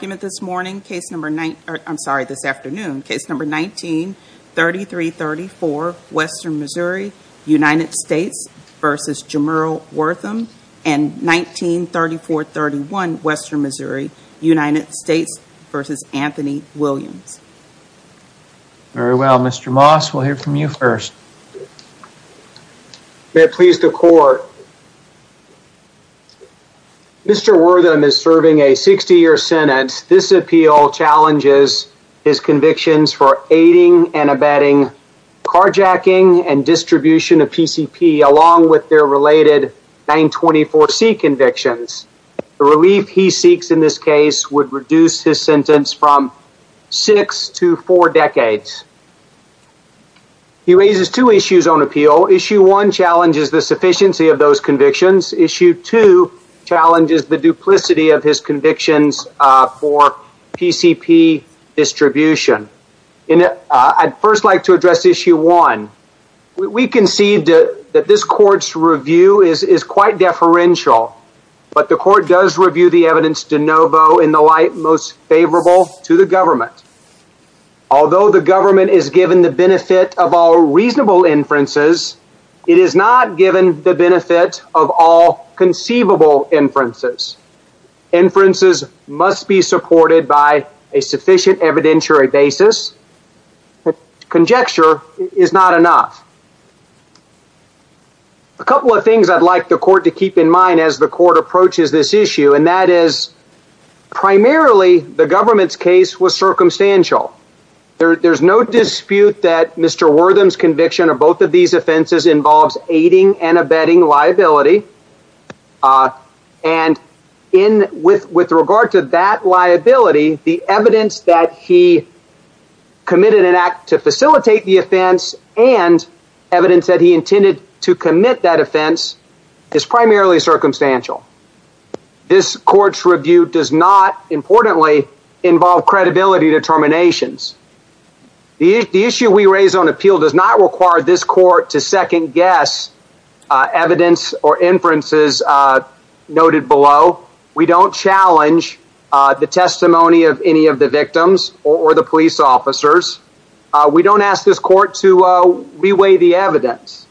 I'm sorry, this afternoon. Case number 19-3334, Western Missouri, United States v. Jamerl Wortham. And 19-3431, Western Missouri, United States v. Anthony Williams. Very well, Mr. Moss, we'll hear from you first. May it please the Court. Mr. Wortham is serving a 60-year sentence. This appeal challenges his convictions for aiding and abetting carjacking and distribution of PCP along with their related 924C convictions. The relief he seeks in this case would reduce his sentence from six to four decades. He raises two issues on appeal. Issue 1 challenges the sufficiency of those convictions. Issue 2 challenges the duplicity of his convictions for PCP distribution. I'd first like to address Issue 1. We concede that this Court's review is quite deferential. But the Court does review the evidence de novo in the light most favorable to the government. Although the government is given the benefit of all reasonable inferences, it is not given the benefit of all conceivable inferences. Inferences must be supported by a sufficient evidentiary basis. Conjecture is not enough. A couple of things I'd like the Court to keep in mind as the Court approaches this issue. Primarily, the government's case was circumstantial. There's no dispute that Mr. Wortham's conviction of both of these offenses involves aiding and abetting liability. With regard to that liability, the evidence that he committed an act to facilitate the offense and evidence that he intended to commit that offense is primarily circumstantial. This Court's review does not, importantly, involve credibility determinations. The issue we raise on appeal does not require this Court to second-guess evidence or inferences noted below. We don't challenge the testimony of any of the victims or the police officers. We don't ask this Court to re-weigh the evidence.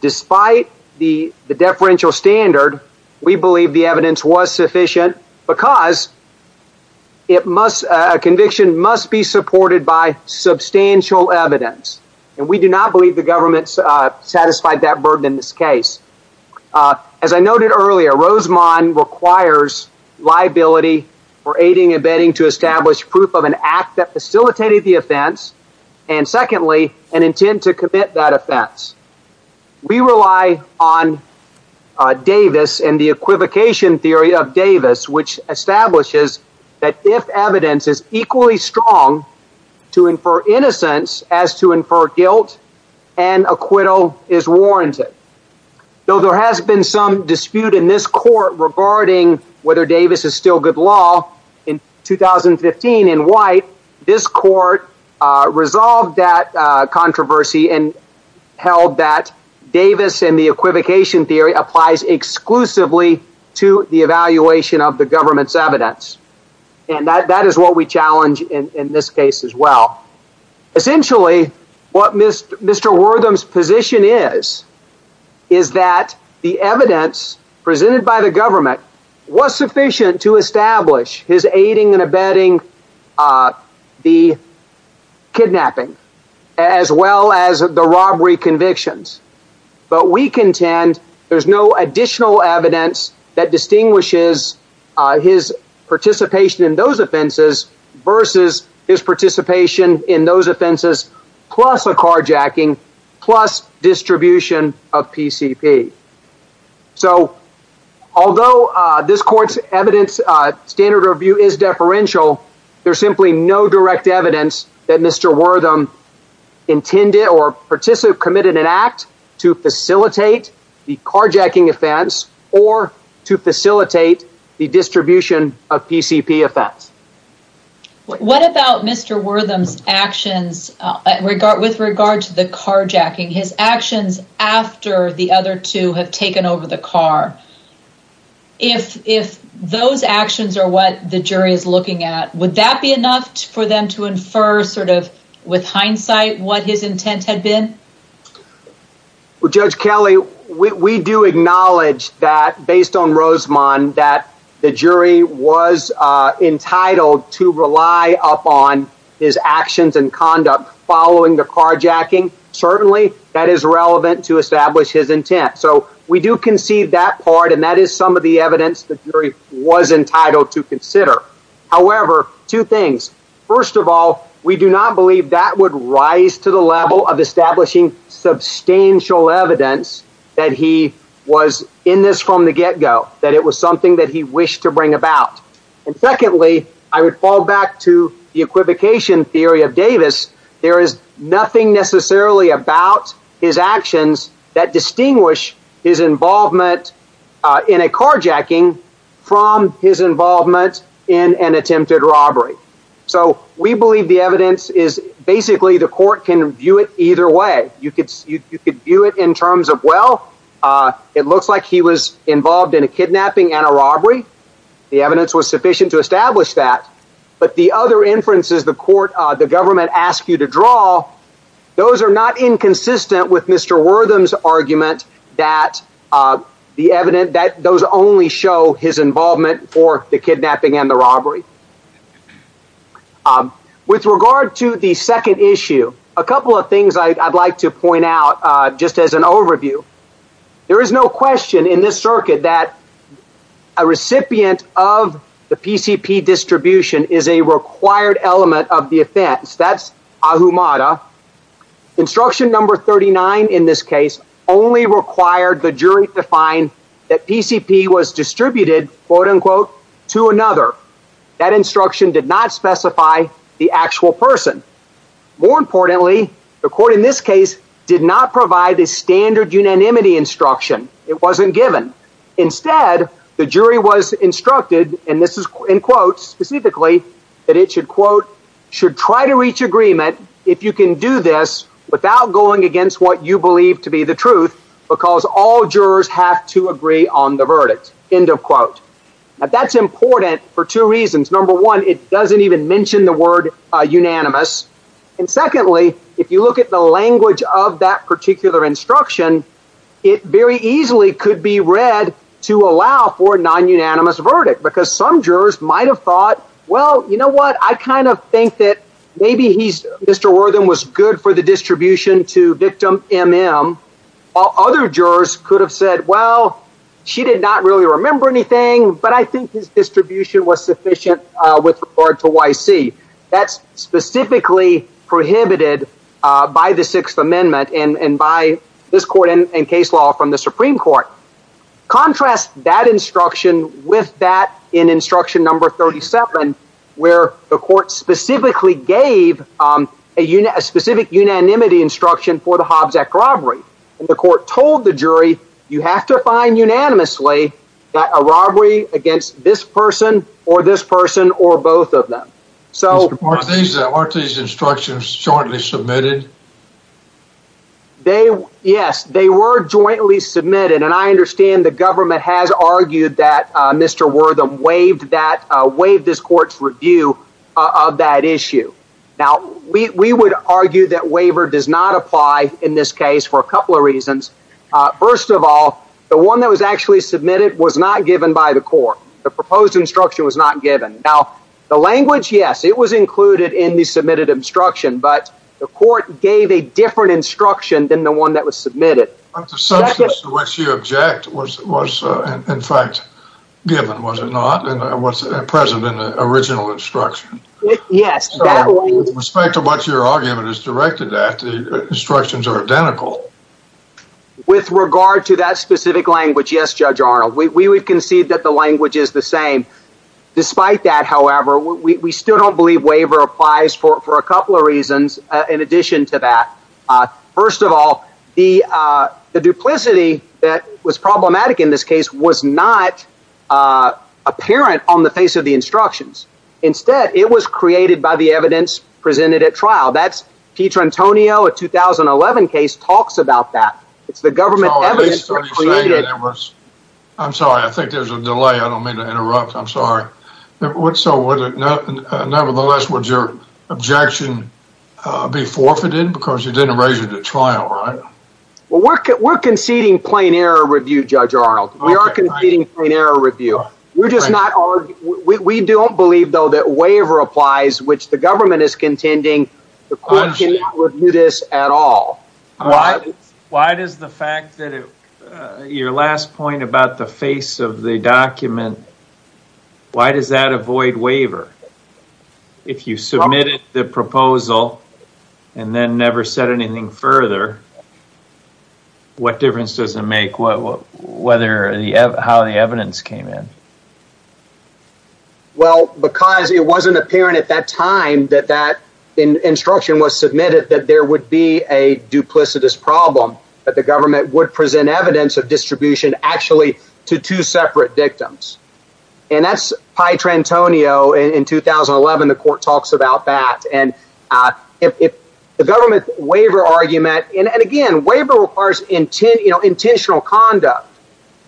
Despite the deferential standard, we believe the evidence was sufficient because a conviction must be supported by substantial evidence. We do not believe the government satisfied that burden in this case. As I noted earlier, Rosemond requires liability for aiding and abetting to establish proof of an act that facilitated the offense and, secondly, an intent to commit that offense. We rely on Davis and the equivocation theory of Davis, which establishes that if evidence is equally strong to infer innocence as to infer guilt, an acquittal is warranted. Though there has been some dispute in this Court regarding whether Davis is still good law, in 2015 in White, this Court resolved that controversy and held that Davis and the equivocation theory applies exclusively to the evaluation of the government's evidence. And that is what we challenge in this case as well. Essentially, what Mr. Wortham's position is, is that the evidence presented by the government was sufficient to establish his aiding and abetting the kidnapping as well as the robbery convictions. But we contend there's no additional evidence that distinguishes his participation in those offenses versus his participation in those offenses plus a carjacking, plus distribution of PCP. So, although this Court's evidence standard review is deferential, there's simply no direct evidence that Mr. Wortham intended or participated in an act to facilitate the carjacking offense or to facilitate the distribution of PCP offense. What about Mr. Wortham's actions with regard to the carjacking, his actions after the other two have taken over the car? If those actions are what the jury is looking at, would that be enough for them to infer sort of with hindsight what his intent had been? Well, Judge Kelly, we do acknowledge that, based on Rosemond, that the jury was entitled to rely upon his actions and conduct following the carjacking. Certainly, that is relevant to establish his intent. So, we do concede that part, and that is some of the evidence the jury was entitled to consider. However, two things. First of all, we do not believe that would rise to the level of establishing substantial evidence that he was in this from the get-go, that it was something that he wished to bring about. And secondly, I would fall back to the equivocation theory of Davis. There is nothing necessarily about his actions that distinguish his involvement in a carjacking from his involvement in an attempted robbery. So, we believe the evidence is basically the court can view it either way. You could view it in terms of, well, it looks like he was involved in a kidnapping and a robbery. The evidence was sufficient to establish that. But the other inferences the government asks you to draw, those are not inconsistent with Mr. Wortham's argument that those only show his involvement for the kidnapping and the robbery. With regard to the second issue, a couple of things I'd like to point out just as an overview. There is no question in this circuit that a recipient of the PCP distribution is a required element of the offense. That's ahumada. Instruction number 39 in this case only required the jury to find that PCP was distributed, quote-unquote, to another. That instruction did not specify the actual person. More importantly, the court in this case did not provide a standard unanimity instruction. It wasn't given. Instead, the jury was instructed, and this is in quotes specifically, that it should, quote, should try to reach agreement if you can do this without going against what you believe to be the truth because all jurors have to agree on the verdict, end of quote. Now, that's important for two reasons. Number one, it doesn't even mention the word unanimous. And secondly, if you look at the language of that particular instruction, it very easily could be read to allow for a non-unanimous verdict because some jurors might have thought, well, you know what? I kind of think that maybe Mr. Wortham was good for the distribution to victim MM. Other jurors could have said, well, she did not really remember anything, but I think his distribution was sufficient with regard to YC. That's specifically prohibited by the Sixth Amendment and by this court and case law from the Supreme Court. Contrast that instruction with that in instruction number 37, where the court specifically gave a specific unanimity instruction for the Hobbs Act robbery. And the court told the jury, you have to find unanimously that a robbery against this person or this person or both of them. Aren't these instructions jointly submitted? They yes, they were jointly submitted. And I understand the government has argued that Mr. Wortham waived that waived this court's review of that issue. Now, we would argue that waiver does not apply in this case for a couple of reasons. First of all, the one that was actually submitted was not given by the court. The proposed instruction was not given. Now, the language, yes, it was included in the submitted instruction, but the court gave a different instruction than the one that was submitted. But the substance to which you object was in fact given, was it not? And what's present in the original instruction? Yes. With respect to what your argument is directed at, the instructions are identical. With regard to that specific language, yes, Judge Arnold, we would concede that the language is the same. Despite that, however, we still don't believe waiver applies for a couple of reasons in addition to that. First of all, the duplicity that was problematic in this case was not apparent on the face of the instructions. Instead, it was created by the evidence presented at trial. That's Peter Antonio, a 2011 case, talks about that. It's the government evidence that was created. I'm sorry, I think there's a delay. I don't mean to interrupt. I'm sorry. Nevertheless, would your objection be forfeited because you didn't raise it at trial, right? We're conceding plain error review, Judge Arnold. We are conceding plain error review. We don't believe, though, that waiver applies, which the government is contending. The court cannot review this at all. Why does the fact that your last point about the face of the document, why does that avoid waiver? If you submitted the proposal and then never said anything further, what difference does it make how the evidence came in? Well, because it wasn't apparent at that time that that instruction was submitted that there would be a duplicitous problem, that the government would present evidence of distribution actually to two separate victims. And that's Pietrantonio in 2011. The court talks about that. If the government's waiver argument—and again, waiver requires intentional conduct.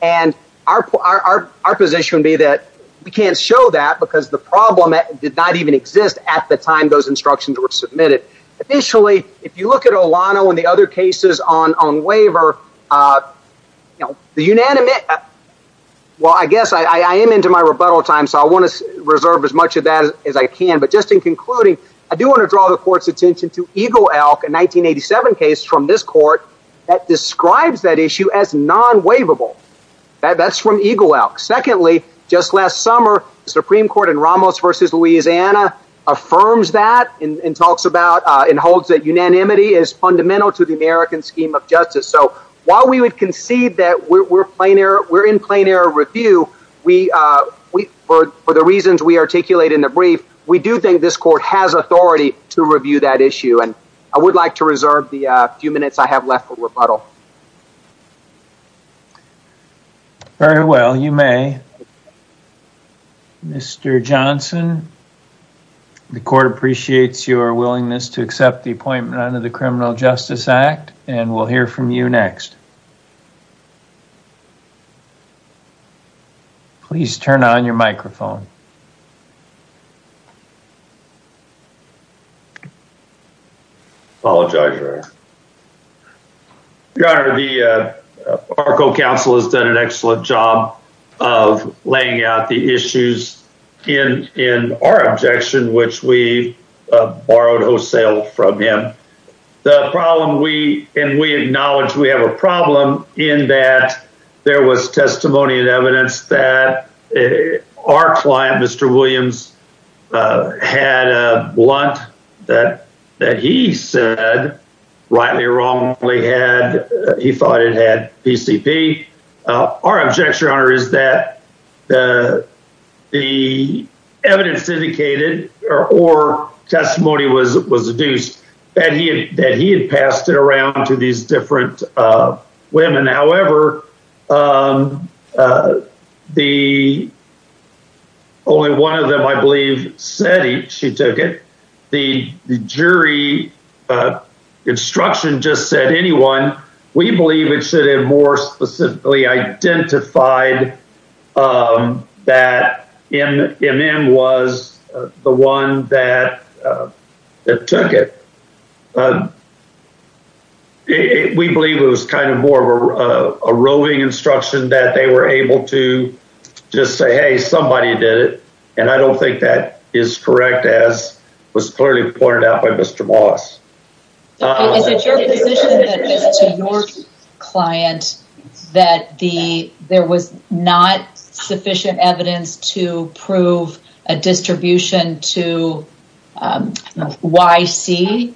And our position would be that we can't show that because the problem did not even exist at the time those instructions were submitted. Additionally, if you look at Olano and the other cases on waiver, the unanimous—well, I guess I am into my rebuttal time, so I want to reserve as much of that as I can. But just in concluding, I do want to draw the court's attention to Eagle Elk, a 1987 case from this court that describes that issue as non-waivable. That's from Eagle Elk. Secondly, just last summer, the Supreme Court in Ramos v. Louisiana affirms that and talks about— and holds that unanimity is fundamental to the American scheme of justice. So while we would concede that we're in plain error review, for the reasons we articulate in the brief, we do think this court has authority to review that issue. And I would like to reserve the few minutes I have left for rebuttal. Very well. You may. Mr. Johnson, the court appreciates your willingness to accept the appointment under the Criminal Justice Act. And we'll hear from you next. Please turn on your microphone. Apologize for that. Your Honor, our co-counsel has done an excellent job of laying out the issues in our objection, which we borrowed wholesale from him. The problem we—and we acknowledge we have a problem in that there was testimony and evidence that our client, Mr. Williams, had a blunt that he said, rightly or wrongly, he thought it had PCP. Our objection, Your Honor, is that the evidence indicated or testimony was deduced that he had passed it around to these different women. However, the—only one of them, I believe, said he—she took it. The jury instruction just said anyone. We believe it should have more specifically identified that MM was the one that took it. We believe it was kind of more of a roving instruction that they were able to just say, hey, somebody did it. And I don't think that is correct, as was clearly pointed out by Mr. Wallace. Is it your position that it was to your client that the—there was not sufficient evidence to prove a distribution to YC?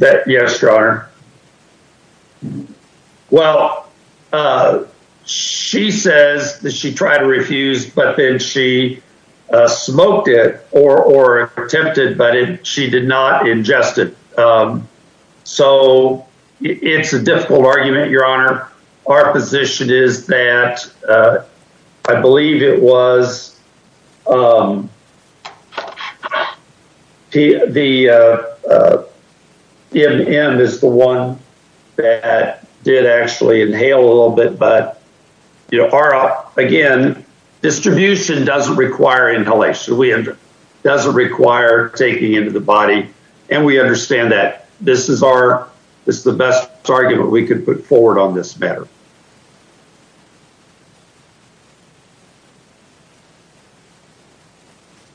Yes, Your Honor. Well, she says that she tried to refuse, but then she smoked it or attempted, but she did not ingest it. So it's a difficult argument, Your Honor. Our position is that I believe it was the—MM is the one that did actually inhale a little bit. But, you know, our—again, distribution doesn't require inhalation. It doesn't require taking into the body. And we understand that this is our—it's the best argument we could put forward on this matter.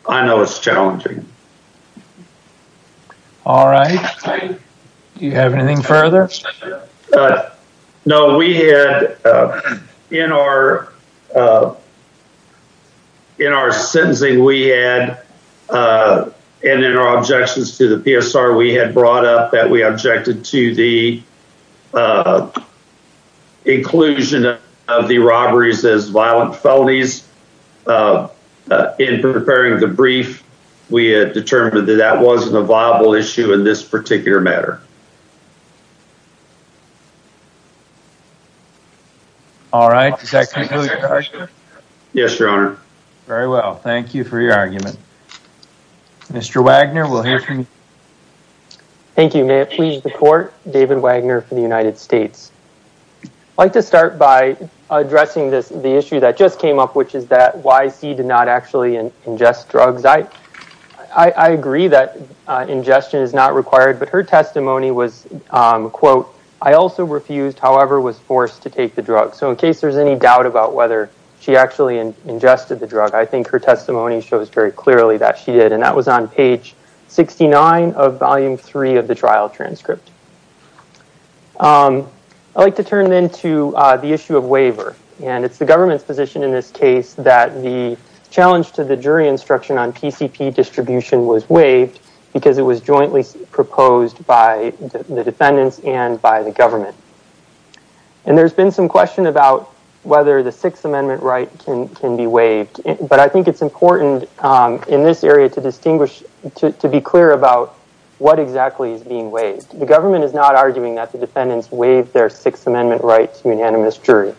I know it's challenging. All right. Do you have anything further? No, we had—in our sentencing, we had—and in our objections to the PSR, we had brought up that we objected to the inclusion of the robberies as violent felonies. In preparing the brief, we had determined that that wasn't a viable issue in this particular matter. All right. Does that conclude, Your Honor? Yes, Your Honor. Very well. Thank you for your argument. Mr. Wagner, we'll hear from you. Thank you. May it please the Court, David Wagner for the United States. I'd like to start by addressing the issue that just came up, which is that YC did not actually ingest drugs. I agree that ingestion is not required, but her testimony was, quote, I also refused, however, was forced to take the drug. So in case there's any doubt about whether she actually ingested the drug, I think her testimony shows very clearly that she did. And that was on page 69 of volume 3 of the trial transcript. I'd like to turn then to the issue of waiver. And it's the government's position in this case that the challenge to the jury instruction on PCP distribution was waived because it was jointly proposed by the defendants and by the government. And there's been some question about whether the Sixth Amendment right can be waived. But I think it's important in this area to distinguish, to be clear about what exactly is being waived. The government is not arguing that the defendants waived their Sixth Amendment right to unanimous jury.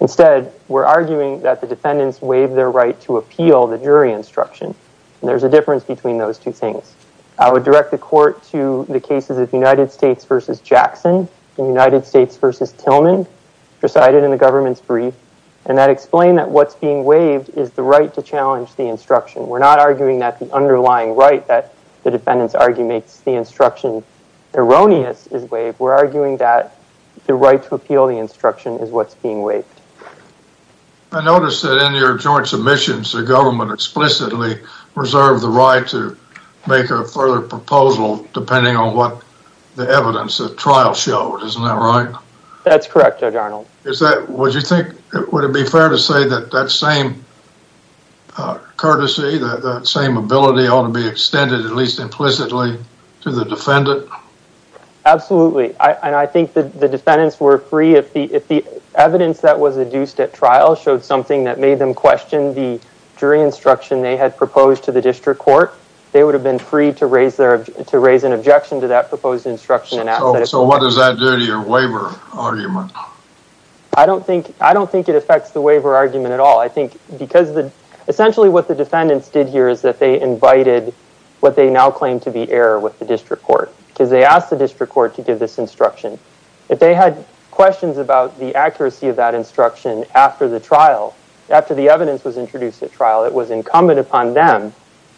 Instead, we're arguing that the defendants waived their right to appeal the jury instruction. And there's a difference between those two things. I would direct the court to the cases of United States v. Jackson and United States v. Tillman, decided in the government's brief. And that explained that what's being waived is the right to challenge the instruction. We're not arguing that the underlying right that the defendants argue makes the instruction erroneous is waived. We're arguing that the right to appeal the instruction is what's being waived. I noticed that in your joint submissions, the government explicitly reserved the right to make a further proposal depending on what the evidence of trial showed. Isn't that right? That's correct, Judge Arnold. Would it be fair to say that that same courtesy, that same ability ought to be extended at least implicitly to the defendant? Absolutely. And I think that the defendants were free. If the evidence that was adduced at trial showed something that made them question the jury instruction they had proposed to the district court, they would have been free to raise an objection to that proposed instruction. So what does that do to your waiver argument? I don't think it affects the waiver argument at all. Essentially what the defendants did here is that they invited what they now claim to be error with the district court. Because they asked the district court to give this instruction. If they had questions about the accuracy of that instruction after the trial, after the evidence was introduced at trial, it was incumbent upon them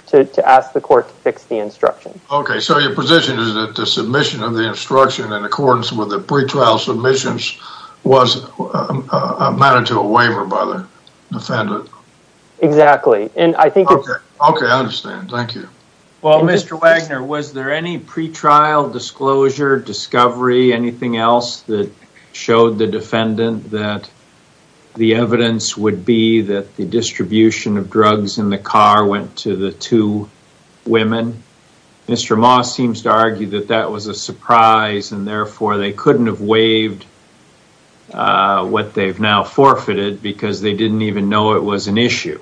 to ask the court to fix the instruction. Okay, so your position is that the submission of the instruction in accordance with the pretrial submissions was a matter to a waiver by the defendant. Exactly. Okay, I understand. Thank you. Well, Mr. Wagner, was there any pretrial disclosure, discovery, anything else that showed the defendant that the evidence would be that the distribution of drugs in the car went to the two women? Mr. Moss seems to argue that that was a surprise and therefore they couldn't have waived what they've now forfeited because they didn't even know it was an issue.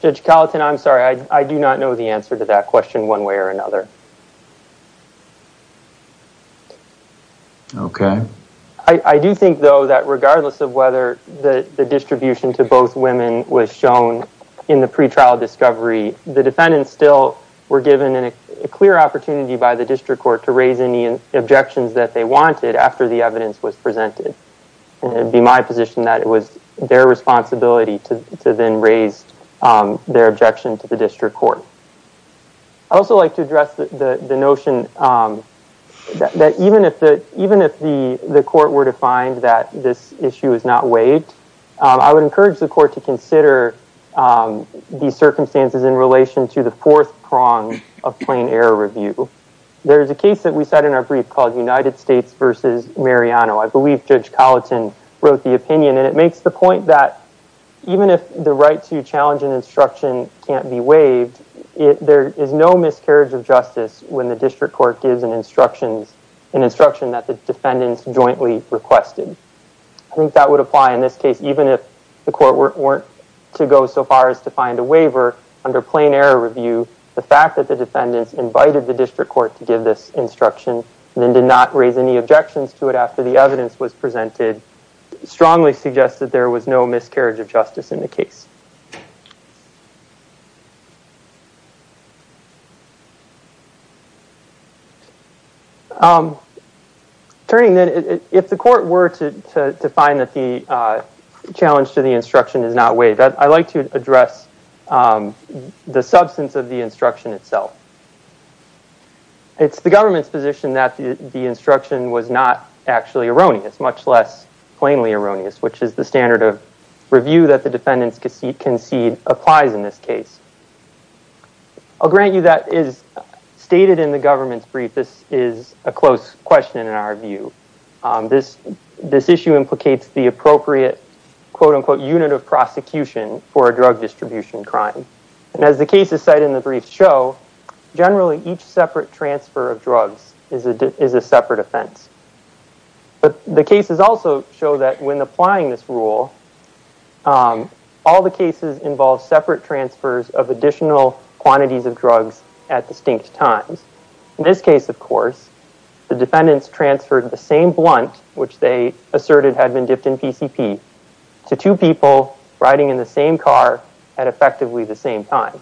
Judge Colleton, I'm sorry, I do not know the answer to that question one way or another. Okay. I do think, though, that regardless of whether the distribution to both women was shown in the pretrial discovery, the defendants still were given a clear opportunity by the district court to raise any objections that they wanted after the evidence was presented. It would be my position that it was their responsibility to then raise their objection to the district court. I'd also like to address the notion that even if the court were to find that this issue is not waived, I would encourage the court to consider the circumstances in relation to the fourth prong of plain error review. There's a case that we cited in our brief called United States versus Mariano. I believe Judge Colleton wrote the opinion, and it makes the point that even if the right to challenge an instruction can't be waived, there is no miscarriage of justice when the district court gives an instruction that the defendants jointly requested. I think that would apply in this case, even if the court were to go so far as to find a waiver under plain error review. The fact that the defendants invited the district court to give this instruction, then did not raise any objections to it after the evidence was presented, strongly suggests that there was no miscarriage of justice in the case. Turning then, if the court were to find that the challenge to the instruction is not waived, I'd like to address the substance of the instruction itself. It's the government's position that the instruction was not actually erroneous, much less plainly erroneous, which is the standard of review that the defendants concede applies in this case. I'll grant you that is stated in the government's brief, this is a close question in our view. This issue implicates the appropriate quote-unquote unit of prosecution for a drug distribution crime. As the cases cited in the brief show, generally each separate transfer of drugs is a separate offense. But the cases also show that when applying this rule, all the cases involve separate transfers of additional quantities of drugs at distinct times. In this case, of course, the defendants transferred the same blunt, which they asserted had been dipped in PCP, to two people riding in the same car at effectively the same time.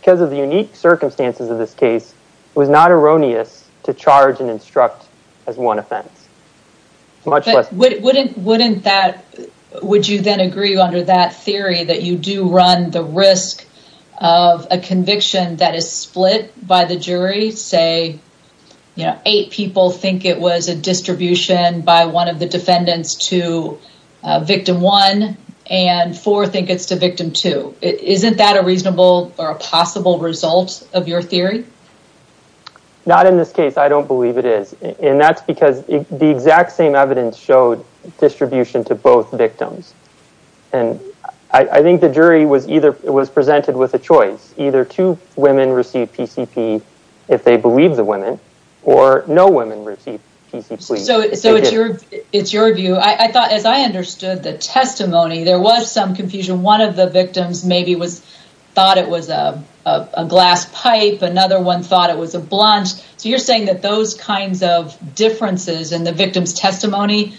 Because of the unique circumstances of this case, it was not erroneous to charge and instruct as one offense. Would you then agree under that theory that you do run the risk of a conviction that is split by the jury? Say eight people think it was a distribution by one of the defendants to victim one, and four think it's to victim two. Isn't that a reasonable or a possible result of your theory? Not in this case, I don't believe it is. And that's because the exact same evidence showed distribution to both victims. And I think the jury was presented with a choice. Either two women receive PCP if they believe the women, or no women receive PCP. So it's your view. I thought as I understood the testimony, there was some confusion. One of the victims maybe thought it was a glass pipe. Another one thought it was a blunt. So you're saying that those kinds of differences in the victim's testimony,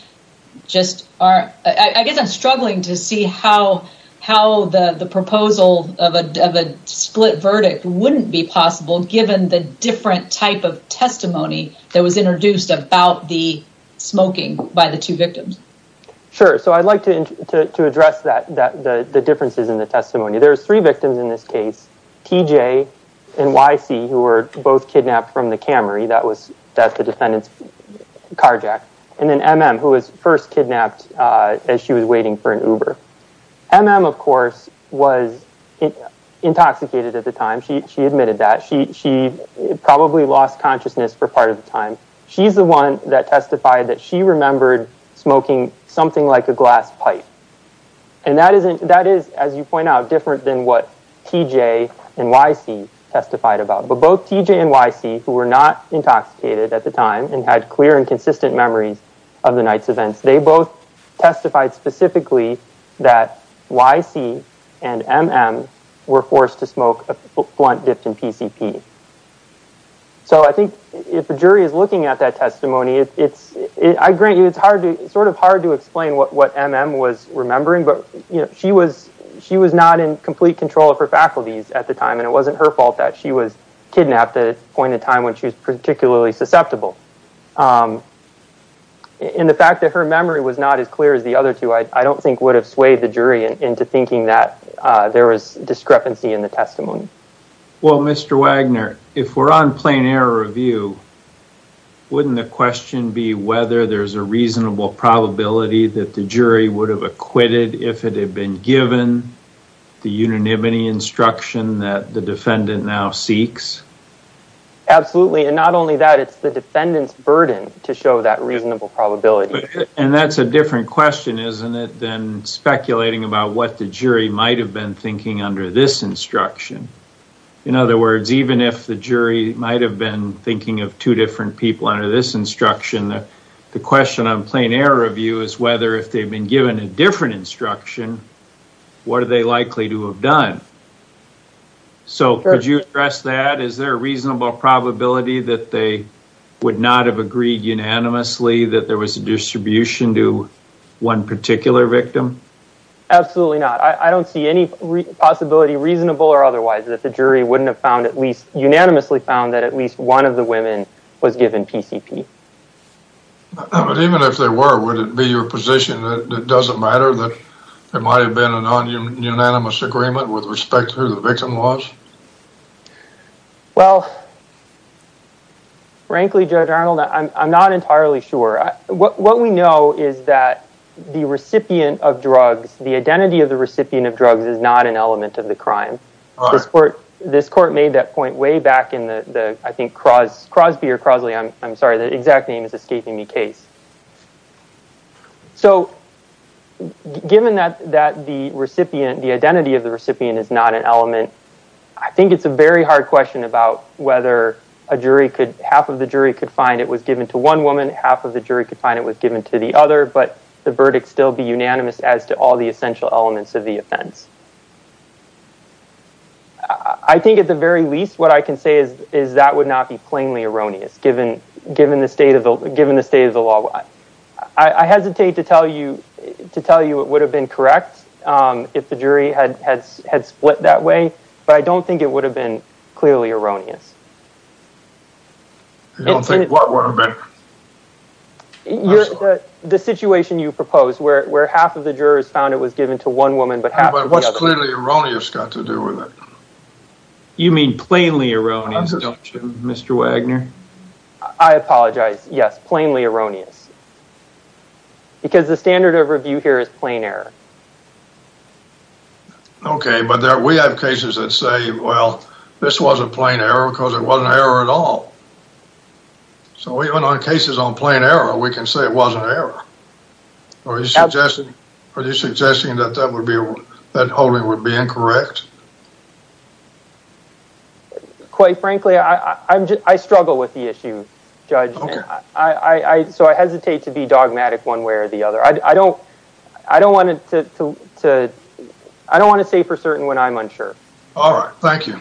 I guess I'm struggling to see how the proposal of a split verdict wouldn't be possible, given the different type of testimony that was introduced about the smoking by the two victims. Sure, so I'd like to address the differences in the testimony. There's three victims in this case, TJ and YC, who were both kidnapped from the Camry. That's the defendant's car jack. And then MM, who was first kidnapped as she was waiting for an Uber. MM, of course, was intoxicated at the time. She admitted that. She probably lost consciousness for part of the time. She's the one that testified that she remembered smoking something like a glass pipe. And that is, as you point out, different than what TJ and YC testified about. But both TJ and YC, who were not intoxicated at the time, and had clear and consistent memories of the night's events, they both testified specifically that YC and MM were forced to smoke a blunt dipped in PCP. So I think if a jury is looking at that testimony, I grant you it's sort of hard to explain what MM was remembering, but she was not in complete control of her faculties at the time, and it wasn't her fault that she was kidnapped at a point in time when she was particularly susceptible. And the fact that her memory was not as clear as the other two, I don't think would have swayed the jury into thinking that there was discrepancy in the testimony. Well, Mr. Wagner, if we're on plain error review, wouldn't the question be whether there's a reasonable probability that the jury would have acquitted if it had been given the unanimity instruction that the defendant now seeks? Absolutely. And not only that, it's the defendant's burden to show that reasonable probability. And that's a different question, isn't it, than speculating about what the jury might have been thinking under this instruction. In other words, even if the jury might have been thinking of two different people under this instruction, the question on plain error review is whether if they've been given a different instruction, what are they likely to have done? So could you address that? Is there a reasonable probability that they would not have agreed unanimously that there was a distribution to one particular victim? Absolutely not. I don't see any possibility, reasonable or otherwise, that the jury wouldn't have found at least unanimously found that at least one of the women was given PCP. But even if they were, would it be your position that it doesn't matter, that there might have been an unanimous agreement with respect to who the victim was? Well, frankly, Judge Arnold, I'm not entirely sure. What we know is that the recipient of drugs, the identity of the recipient of drugs is not an element of the crime. This court made that point way back in the, I think, Crosby or Crosley, I'm sorry, the exact name is escaping me case. So given that the recipient, the identity of the recipient is not an element, I think it's a very hard question about whether a jury could, half of the jury could find it was given to one woman, half of the jury could find it was given to the other, but the verdict still be unanimous as to all the essential elements of the offense. I think at the very least, what I can say is that would not be plainly erroneous, given the state of the law. I hesitate to tell you it would have been correct if the jury had split that way, but I don't think it would have been clearly erroneous. You don't think what would have been? The situation you proposed, where half of the jurors found it was given to one woman, but half to the other. But what's clearly erroneous got to do with it? You mean plainly erroneous, don't you, Mr. Wagner? I apologize. Yes, plainly erroneous. Because the standard of review here is plain error. Okay, but we have cases that say, well, this wasn't plain error because it wasn't error at all. So even on cases on plain error, we can say it wasn't error. Are you suggesting that that holding would be incorrect? Quite frankly, I struggle with the issue, Judge. So I hesitate to be dogmatic one way or the other. I don't want to say for certain when I'm unsure. All right. Thank you.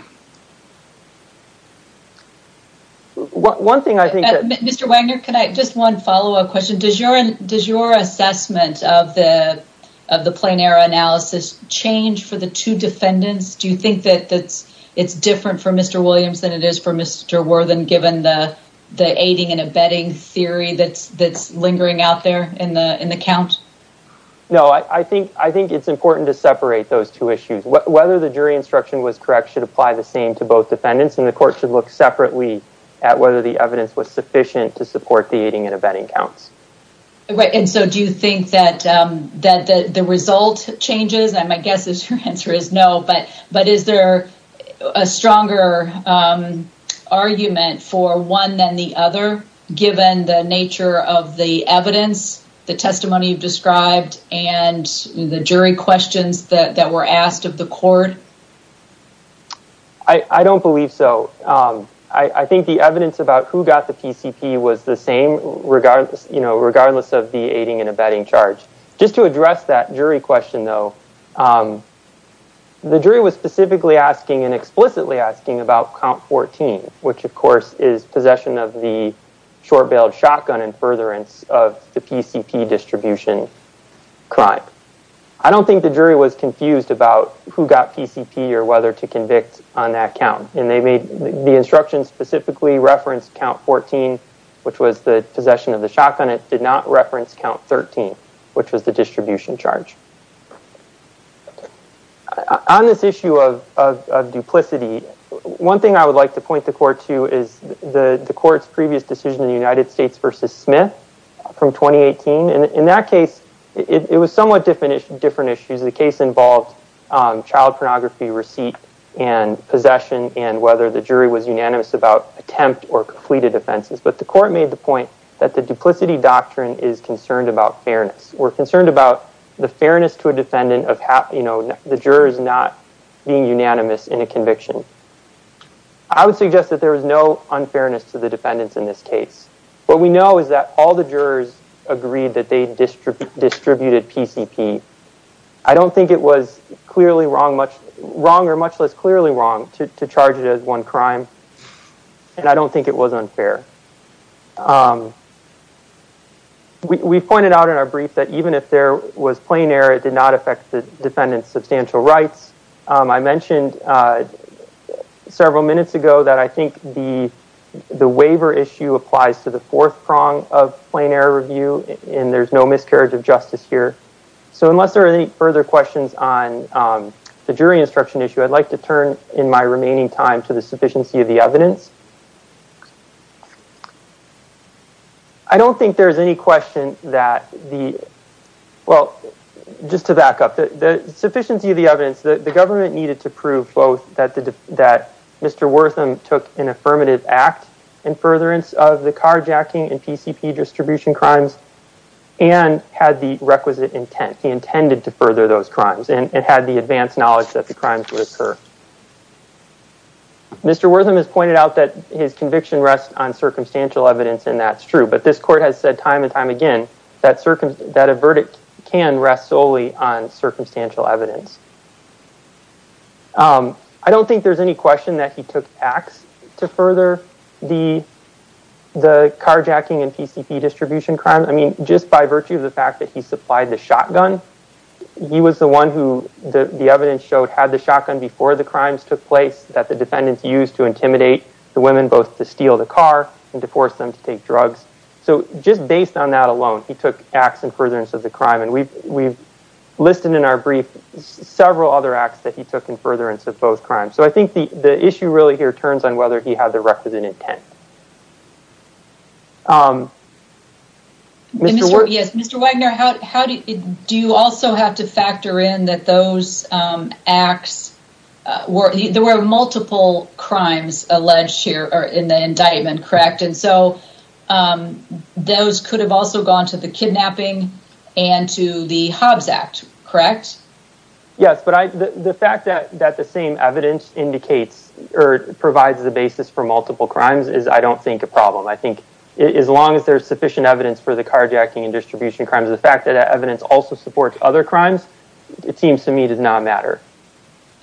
Mr. Wagner, just one follow-up question. Does your assessment of the plain error analysis change for the two defendants? Do you think that it's different for Mr. Williams than it is for Mr. Worthen, given the aiding and abetting theory that's lingering out there in the count? No, I think it's important to separate those two issues. Whether the jury instruction was correct should apply the same to both defendants, and the court should look separately at whether the evidence was sufficient to support the aiding and abetting counts. And so do you think that the result changes? My guess is your answer is no. But is there a stronger argument for one than the other, given the nature of the evidence, the testimony you've described, and the jury questions that were asked of the court? I don't believe so. I think the evidence about who got the PCP was the same, regardless of the aiding and abetting charge. Just to address that jury question, though, the jury was specifically asking and explicitly asking about count 14, which, of course, is possession of the short-bailed shotgun and furtherance of the PCP distribution crime. I don't think the jury was confused about who got PCP or whether to convict on that count. The instruction specifically referenced count 14, which was the possession of the shotgun. The Senate did not reference count 13, which was the distribution charge. On this issue of duplicity, one thing I would like to point the court to is the court's previous decision in the United States versus Smith from 2018. In that case, it was somewhat different issues. The case involved child pornography receipt and possession and whether the jury was unanimous about attempt or completed offenses. But the court made the point that the duplicity doctrine is concerned about fairness. We're concerned about the fairness to a defendant of the jurors not being unanimous in a conviction. I would suggest that there was no unfairness to the defendants in this case. What we know is that all the jurors agreed that they distributed PCP. I don't think it was clearly wrong or much less clearly wrong to charge it as one crime. And I don't think it was unfair. We pointed out in our brief that even if there was plain error, it did not affect the defendant's substantial rights. I mentioned several minutes ago that I think the waiver issue applies to the fourth prong of plain error review. And there's no miscarriage of justice here. So unless there are any further questions on the jury instruction issue, I'd like to turn in my remaining time to the sufficiency of the evidence. I don't think there's any question that the, well, just to back up, the sufficiency of the evidence, the government needed to prove both that Mr. Wortham took an affirmative act in furtherance of the carjacking and PCP distribution crimes and had the requisite intent. He intended to further those crimes and had the advanced knowledge that the crimes would occur. Mr. Wortham has pointed out that his conviction rests on circumstantial evidence and that's true. But this court has said time and time again that a verdict can rest solely on circumstantial evidence. I don't think there's any question that he took acts to further the carjacking and PCP distribution crimes. I mean, just by virtue of the fact that he supplied the shotgun, he was the one who the evidence showed had the shotgun before the crimes took place that the defendants used to intimidate the women both to steal the car and to force them to take drugs. So just based on that alone, he took acts in furtherance of the crime. And we've listed in our brief several other acts that he took in furtherance of both crimes. So I think the issue really here turns on whether he had the requisite intent. Mr. Wagner, do you also have to factor in that those acts, there were multiple crimes alleged here in the indictment, correct? And so those could have also gone to the kidnapping and to the Hobbs Act, correct? Yes, but the fact that the same evidence indicates or provides the basis for multiple crimes is, I don't think, a problem. I think as long as there's sufficient evidence for the carjacking and distribution crimes, the fact that evidence also supports other crimes, it seems to me does not matter.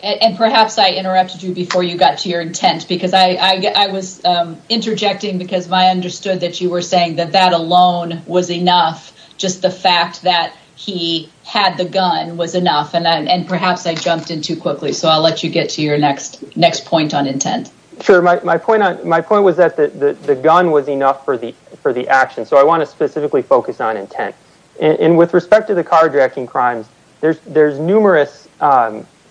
And perhaps I interrupted you before you got to your intent, because I was interjecting, because I understood that you were saying that that alone was enough. Just the fact that he had the gun was enough. And perhaps I jumped in too quickly. So I'll let you get to your next point on intent. Sure. My point was that the gun was enough for the action. So I want to specifically focus on intent. And with respect to the carjacking crimes, there's numerous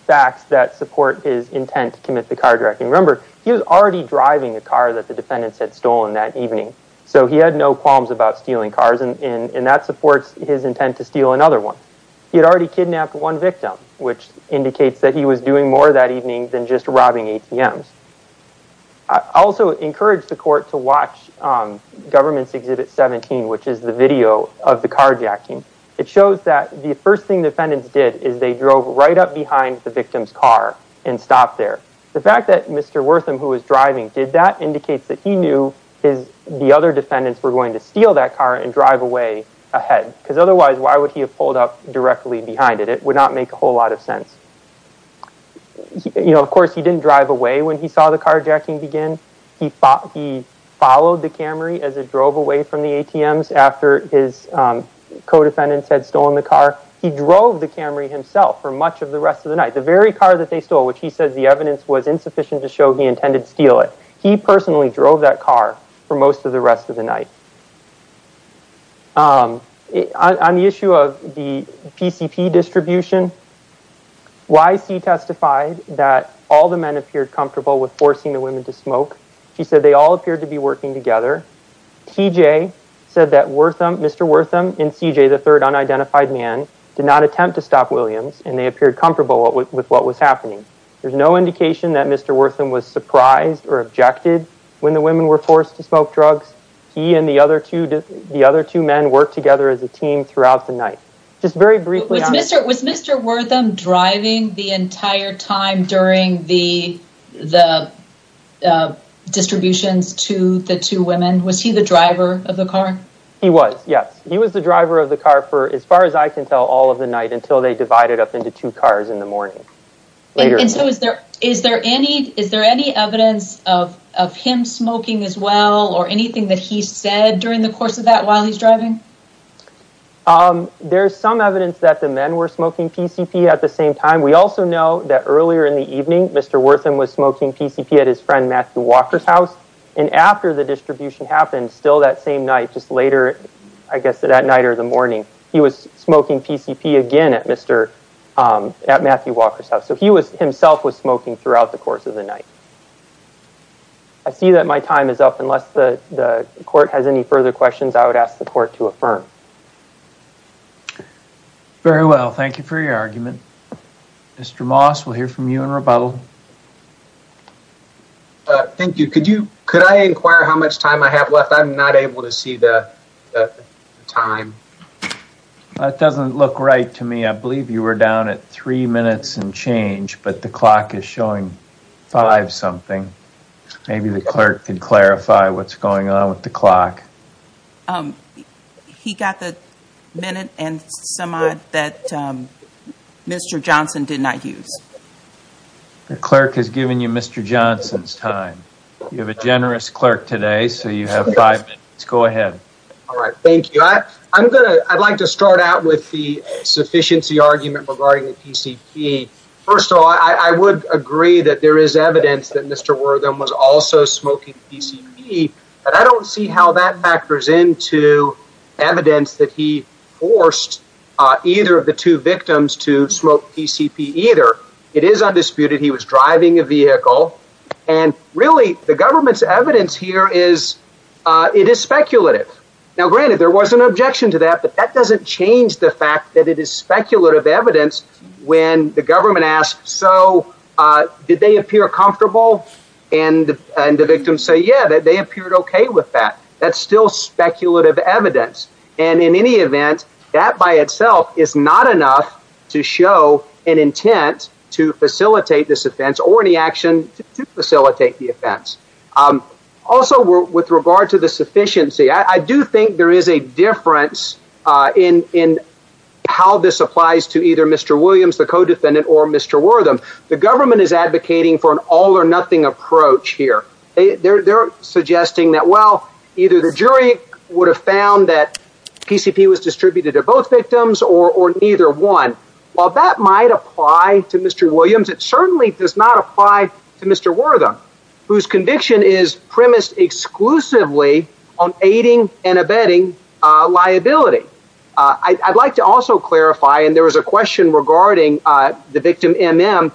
facts that support his intent to commit the carjacking. Remember, he was already driving a car that the defendants had stolen that evening. So he had no qualms about stealing cars. And that supports his intent to steal another one. He had already kidnapped one victim, which indicates that he was doing more that evening than just robbing ATMs. I also encourage the court to watch Government's Exhibit 17, which is the video of the carjacking. It shows that the first thing the defendants did is they drove right up behind the victim's car and stopped there. The fact that Mr. Wortham, who was driving, did that indicates that he knew the other defendants were going to steal that car and drive away ahead. Because otherwise, why would he have pulled up directly behind it? It would not make a whole lot of sense. You know, of course, he didn't drive away when he saw the carjacking begin. He followed the Camry as it drove away from the ATMs after his co-defendants had stolen the car. He drove the Camry himself for much of the rest of the night. The very car that they stole, which he says the evidence was insufficient to show he intended to steal it, he personally drove that car for most of the rest of the night. On the issue of the PCP distribution, YC testified that all the men appeared comfortable with forcing the women to smoke. He said they all appeared to be working together. TJ said that Mr. Wortham and CJ, the third unidentified man, did not attempt to stop Williams and they appeared comfortable with what was happening. There's no indication that Mr. Wortham was surprised or objected when the women were forced to smoke drugs. He and the other two men worked together as a team throughout the night. Was Mr. Wortham driving the entire time during the distributions to the two women? Was he the driver of the car? He was, yes. He was the driver of the car for, as far as I can tell, all of the night until they divided up into two cars in the morning. Is there any evidence of him smoking as well or anything that he said during the course of that while he's driving? There's some evidence that the men were smoking PCP at the same time. We also know that earlier in the evening, Mr. Wortham was smoking PCP at his friend Matthew Walker's house and after the distribution happened, still that same night, just later, I guess that night or the morning, he was smoking PCP again at Matthew Walker's house. So he himself was smoking throughout the course of the night. I see that my time is up. Unless the court has any further questions, I would ask the court to affirm. Very well. Thank you for your argument. Mr. Moss, we'll hear from you in rebuttal. Thank you. Could I inquire how much time I have left? I'm not able to see the time. That doesn't look right to me. I believe you were down at three minutes and change, but the clock is showing five something. Maybe the clerk can clarify what's going on with the clock. He got the minute and some odd that Mr. Johnson did not use. The clerk has given you Mr. Johnson's time. You have a generous clerk today, so you have five minutes. Go ahead. All right. Thank you. I'd like to start out with the sufficiency argument regarding the PCP. First of all, I would agree that there is evidence that Mr. Wortham was also smoking PCP, but I don't see how that factors into evidence that he forced either of the two victims to smoke PCP either. It is undisputed. He was driving a vehicle. And really, the government's evidence here is it is speculative. Now, granted, there was an objection to that, but that doesn't change the fact that it is speculative evidence. When the government asks, so did they appear comfortable? And the victims say, yeah, that they appeared OK with that. That's still speculative evidence. And in any event, that by itself is not enough to show an intent to facilitate this offense or any action to facilitate the offense. Also, with regard to the sufficiency, I do think there is a difference in how this applies to either Mr. Williams, the co-defendant, or Mr. Wortham. The government is advocating for an all-or-nothing approach here. They're suggesting that, well, either the jury would have found that PCP was distributed to both victims or neither one. While that might apply to Mr. Williams, it certainly does not apply to Mr. Wortham, whose conviction is premised exclusively on aiding and abetting liability. I'd like to also clarify, and there was a question regarding the victim, M.M.,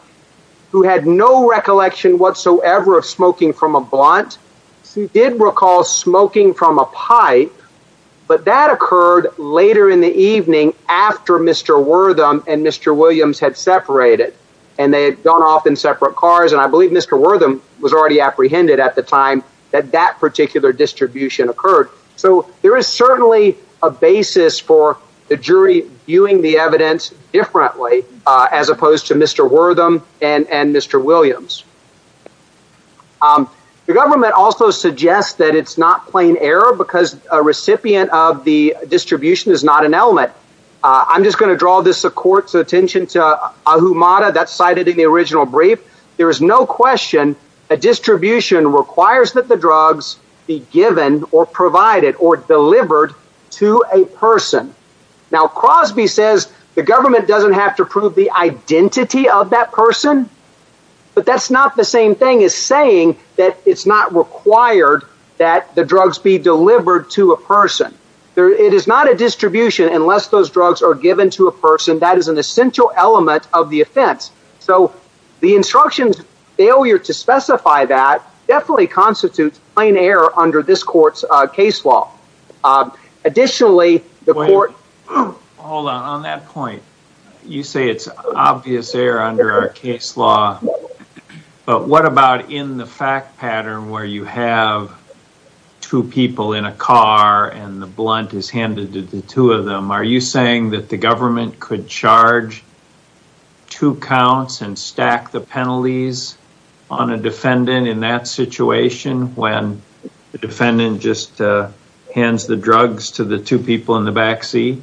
who had no recollection whatsoever of smoking from a blunt. She did recall smoking from a pipe, but that occurred later in the evening after Mr. Wortham and Mr. Williams had separated. And they had gone off in separate cars, and I believe Mr. Wortham was already apprehended at the time that that particular distribution occurred. So there is certainly a basis for the jury viewing the evidence differently as opposed to Mr. Wortham and Mr. Williams. The government also suggests that it's not plain error because a recipient of the distribution is not an element. I'm just going to draw this court's attention to Ahumada. That's cited in the original brief. There is no question a distribution requires that the drugs be given or provided or delivered to a person. Now, Crosby says the government doesn't have to prove the identity of that person, but that's not the same thing as saying that it's not required that the drugs be delivered to a person. It is not a distribution unless those drugs are given to a person. That is an essential element of the offense. So the instruction's failure to specify that definitely constitutes plain error under this court's case law. Additionally, the court... Hold on. On that point, you say it's obvious error under our case law, but what about in the fact pattern where you have two people in a car and the blunt is handed to the two of them? Are you saying that the government could charge two counts and stack the penalties on a defendant in that situation when the defendant just hands the drugs to the two people in the back seat?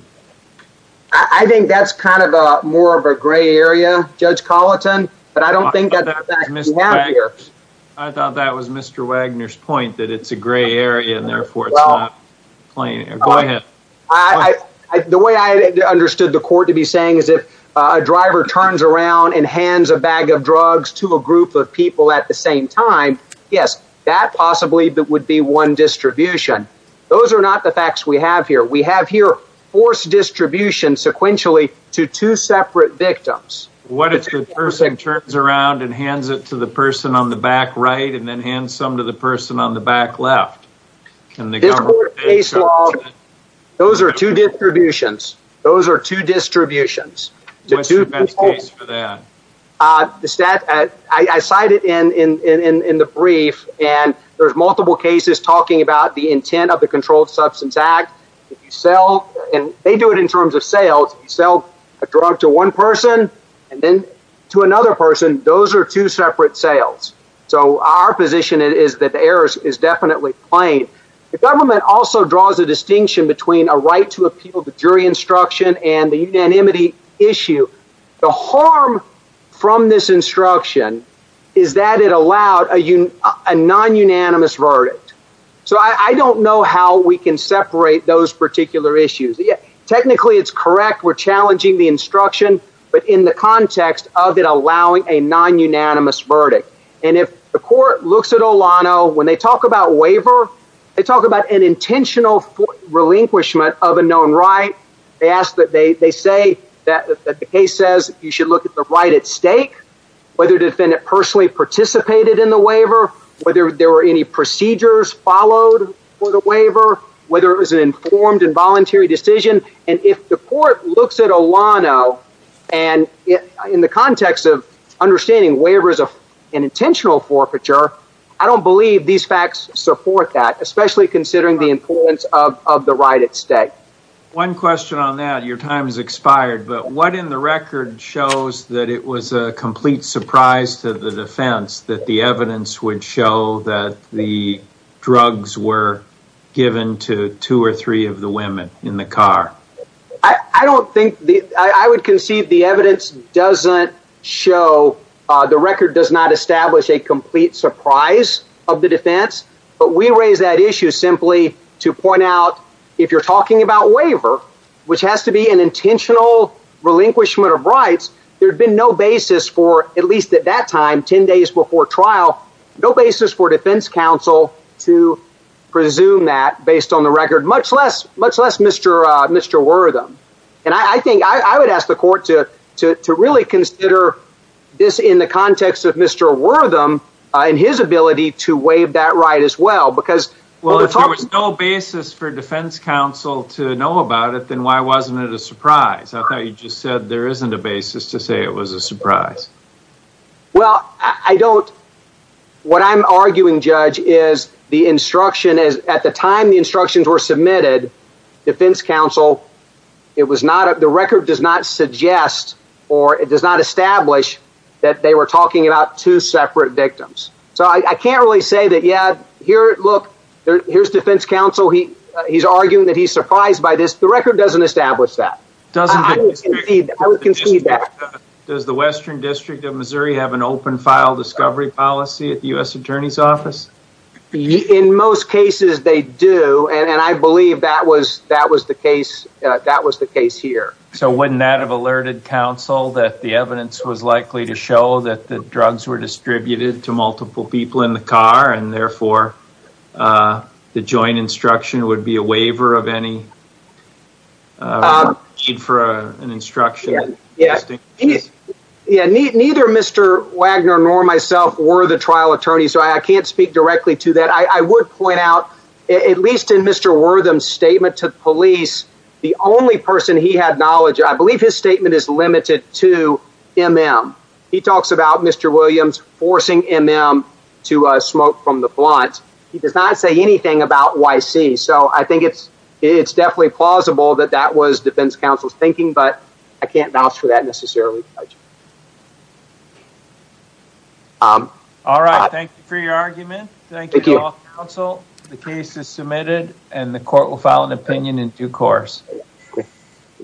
I think that's kind of more of a gray area, Judge Colleton, but I don't think that's... I thought that was Mr. Wagner's point, that it's a gray area and therefore it's not plain error. Go ahead. The way I understood the court to be saying is if a driver turns around and hands a bag of drugs to a group of people at the same time, yes, that possibly would be one distribution. Those are not the facts we have here. We have here forced distribution sequentially to two separate victims. What if the person turns around and hands it to the person on the back right and then hands some to the person on the back left? This court's case law, those are two distributions. Those are two distributions. What's the best case for that? I cite it in the brief and there's multiple cases talking about the intent of the Controlled Substance Act. They do it in terms of sales. If you sell a drug to one person and then to another person, those are two separate sales. Our position is that the error is definitely plain. The government also draws a distinction between a right to appeal the jury instruction and the unanimity issue. The harm from this instruction is that it allowed a non-unanimous verdict. I don't know how we can separate those particular issues. Technically, it's correct we're challenging the instruction, but in the context of it allowing a non-unanimous verdict. If the court looks at Olano, when they talk about waiver, they talk about an intentional relinquishment of a known right. They say that the case says you should look at the right at stake, whether the defendant personally participated in the waiver, whether there were any procedures followed for the waiver, whether it was an informed and voluntary decision. If the court looks at Olano in the context of understanding waiver is an intentional forfeiture, I don't believe these facts support that, especially considering the importance of the right at stake. One question on that. Your time has expired. What in the record shows that it was a complete surprise to the defense that the evidence would show that the drugs were given to two or three of the women in the car? I would concede the evidence doesn't show, the record does not establish a complete surprise of the defense. But we raise that issue simply to point out if you're talking about waiver, which has to be an intentional relinquishment of rights. There had been no basis for at least at that time, 10 days before trial, no basis for defense counsel to presume that based on the record, much less Mr. Wortham. I would ask the court to really consider this in the context of Mr. Wortham and his ability to waive that right as well. Well, if there was no basis for defense counsel to know about it, then why wasn't it a surprise? I thought you just said there isn't a basis to say it was a surprise. Well, what I'm arguing, Judge, is at the time the instructions were submitted, defense counsel, the record does not suggest or it does not establish that they were talking about two separate victims. So I can't really say that, yeah, here, look, here's defense counsel, he's arguing that he's surprised by this. The record doesn't establish that. I would concede that. Does the Western District of Missouri have an open file discovery policy at the U.S. Attorney's Office? In most cases they do, and I believe that was the case here. So wouldn't that have alerted counsel that the evidence was likely to show that the drugs were distributed to multiple people in the car and therefore the joint instruction would be a waiver of any need for an instruction? Yeah, neither Mr. Wagner nor myself were the trial attorneys, so I can't speak directly to that. But I would point out, at least in Mr. Wortham's statement to the police, the only person he had knowledge of, I believe his statement is limited to MM. He talks about Mr. Williams forcing MM to smoke from the blunt. He does not say anything about YC, so I think it's definitely plausible that that was defense counsel's thinking, but I can't vouch for that necessarily, Judge. All right. Thank you for your argument. Thank you to all counsel. The case is submitted and the court will file an opinion in due course.